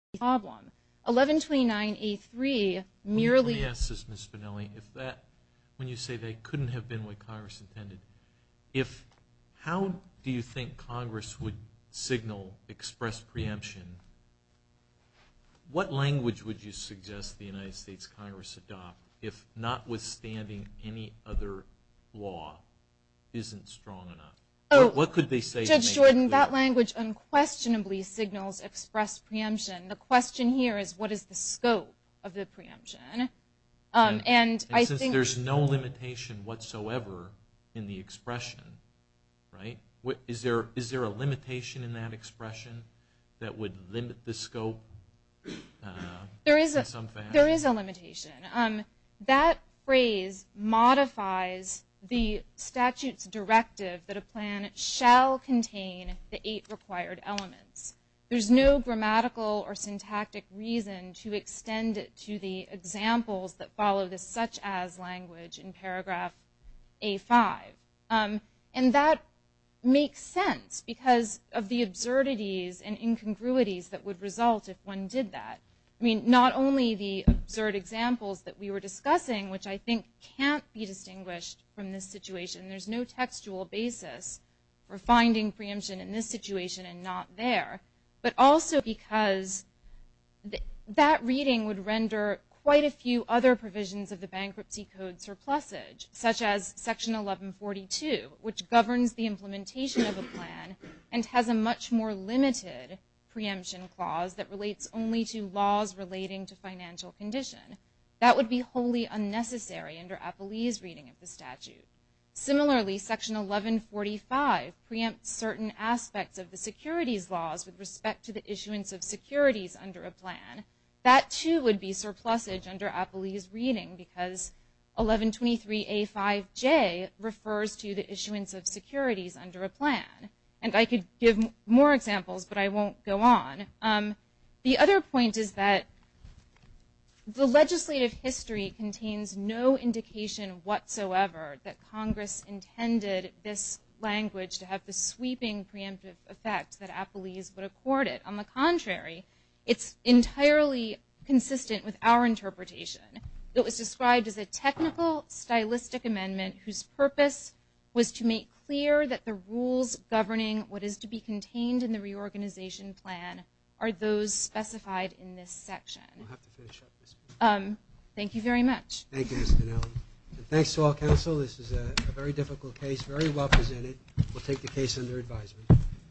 1129A3 merely- Let me ask this, Ms. Spinelli. When you say they couldn't have been what Congress intended, how do you think Congress would signal express preemption? What language would you suggest the United States Congress adopt if notwithstanding any other law isn't strong enough? What could they say to make it clear? Judge Jordan, that language unquestionably signals express preemption. The question here is what is the scope of the preemption? Since there's no limitation whatsoever in the expression, is there a limitation in that expression that would limit the scope in some fashion? There is a limitation. That phrase modifies the statute's directive that a plan shall contain the eight required elements. There's no grammatical or syntactic reason to extend it to the examples that follow this such as language in paragraph A5. And that makes sense because of the absurdities and incongruities that would result if one did that. I mean, not only the absurd examples that we were discussing, which I think can't be distinguished from this situation. There's no textual basis for finding preemption in this situation and not there. But also because that reading would render quite a few other provisions of the Bankruptcy Code surplusage, such as Section 1142, which governs the implementation of a plan and has a much more limited preemption clause that relates only to laws relating to financial condition. That would be wholly unnecessary under Apolli's reading of the statute. Similarly, Section 1145 preempts certain aspects of the securities laws with respect to the issuance of securities under a plan. That, too, would be surplusage under Apolli's reading because 1123A5J refers to the issuance of securities under a plan. And I could give more examples, but I won't go on. The other point is that the legislative history contains no indication whatsoever that Congress intended this language to have the sweeping preemptive effect that Apolli's would accord it. On the contrary, it's entirely consistent with our interpretation. It was described as a technical, stylistic amendment whose purpose was to make clear that the rules governing what is to be contained in the reorganization plan are those specified in this section. Thank you very much. Thank you, Ms. Dunnell. And thanks to all counsel. This is a very difficult case, very well presented. We'll take the case under advisement.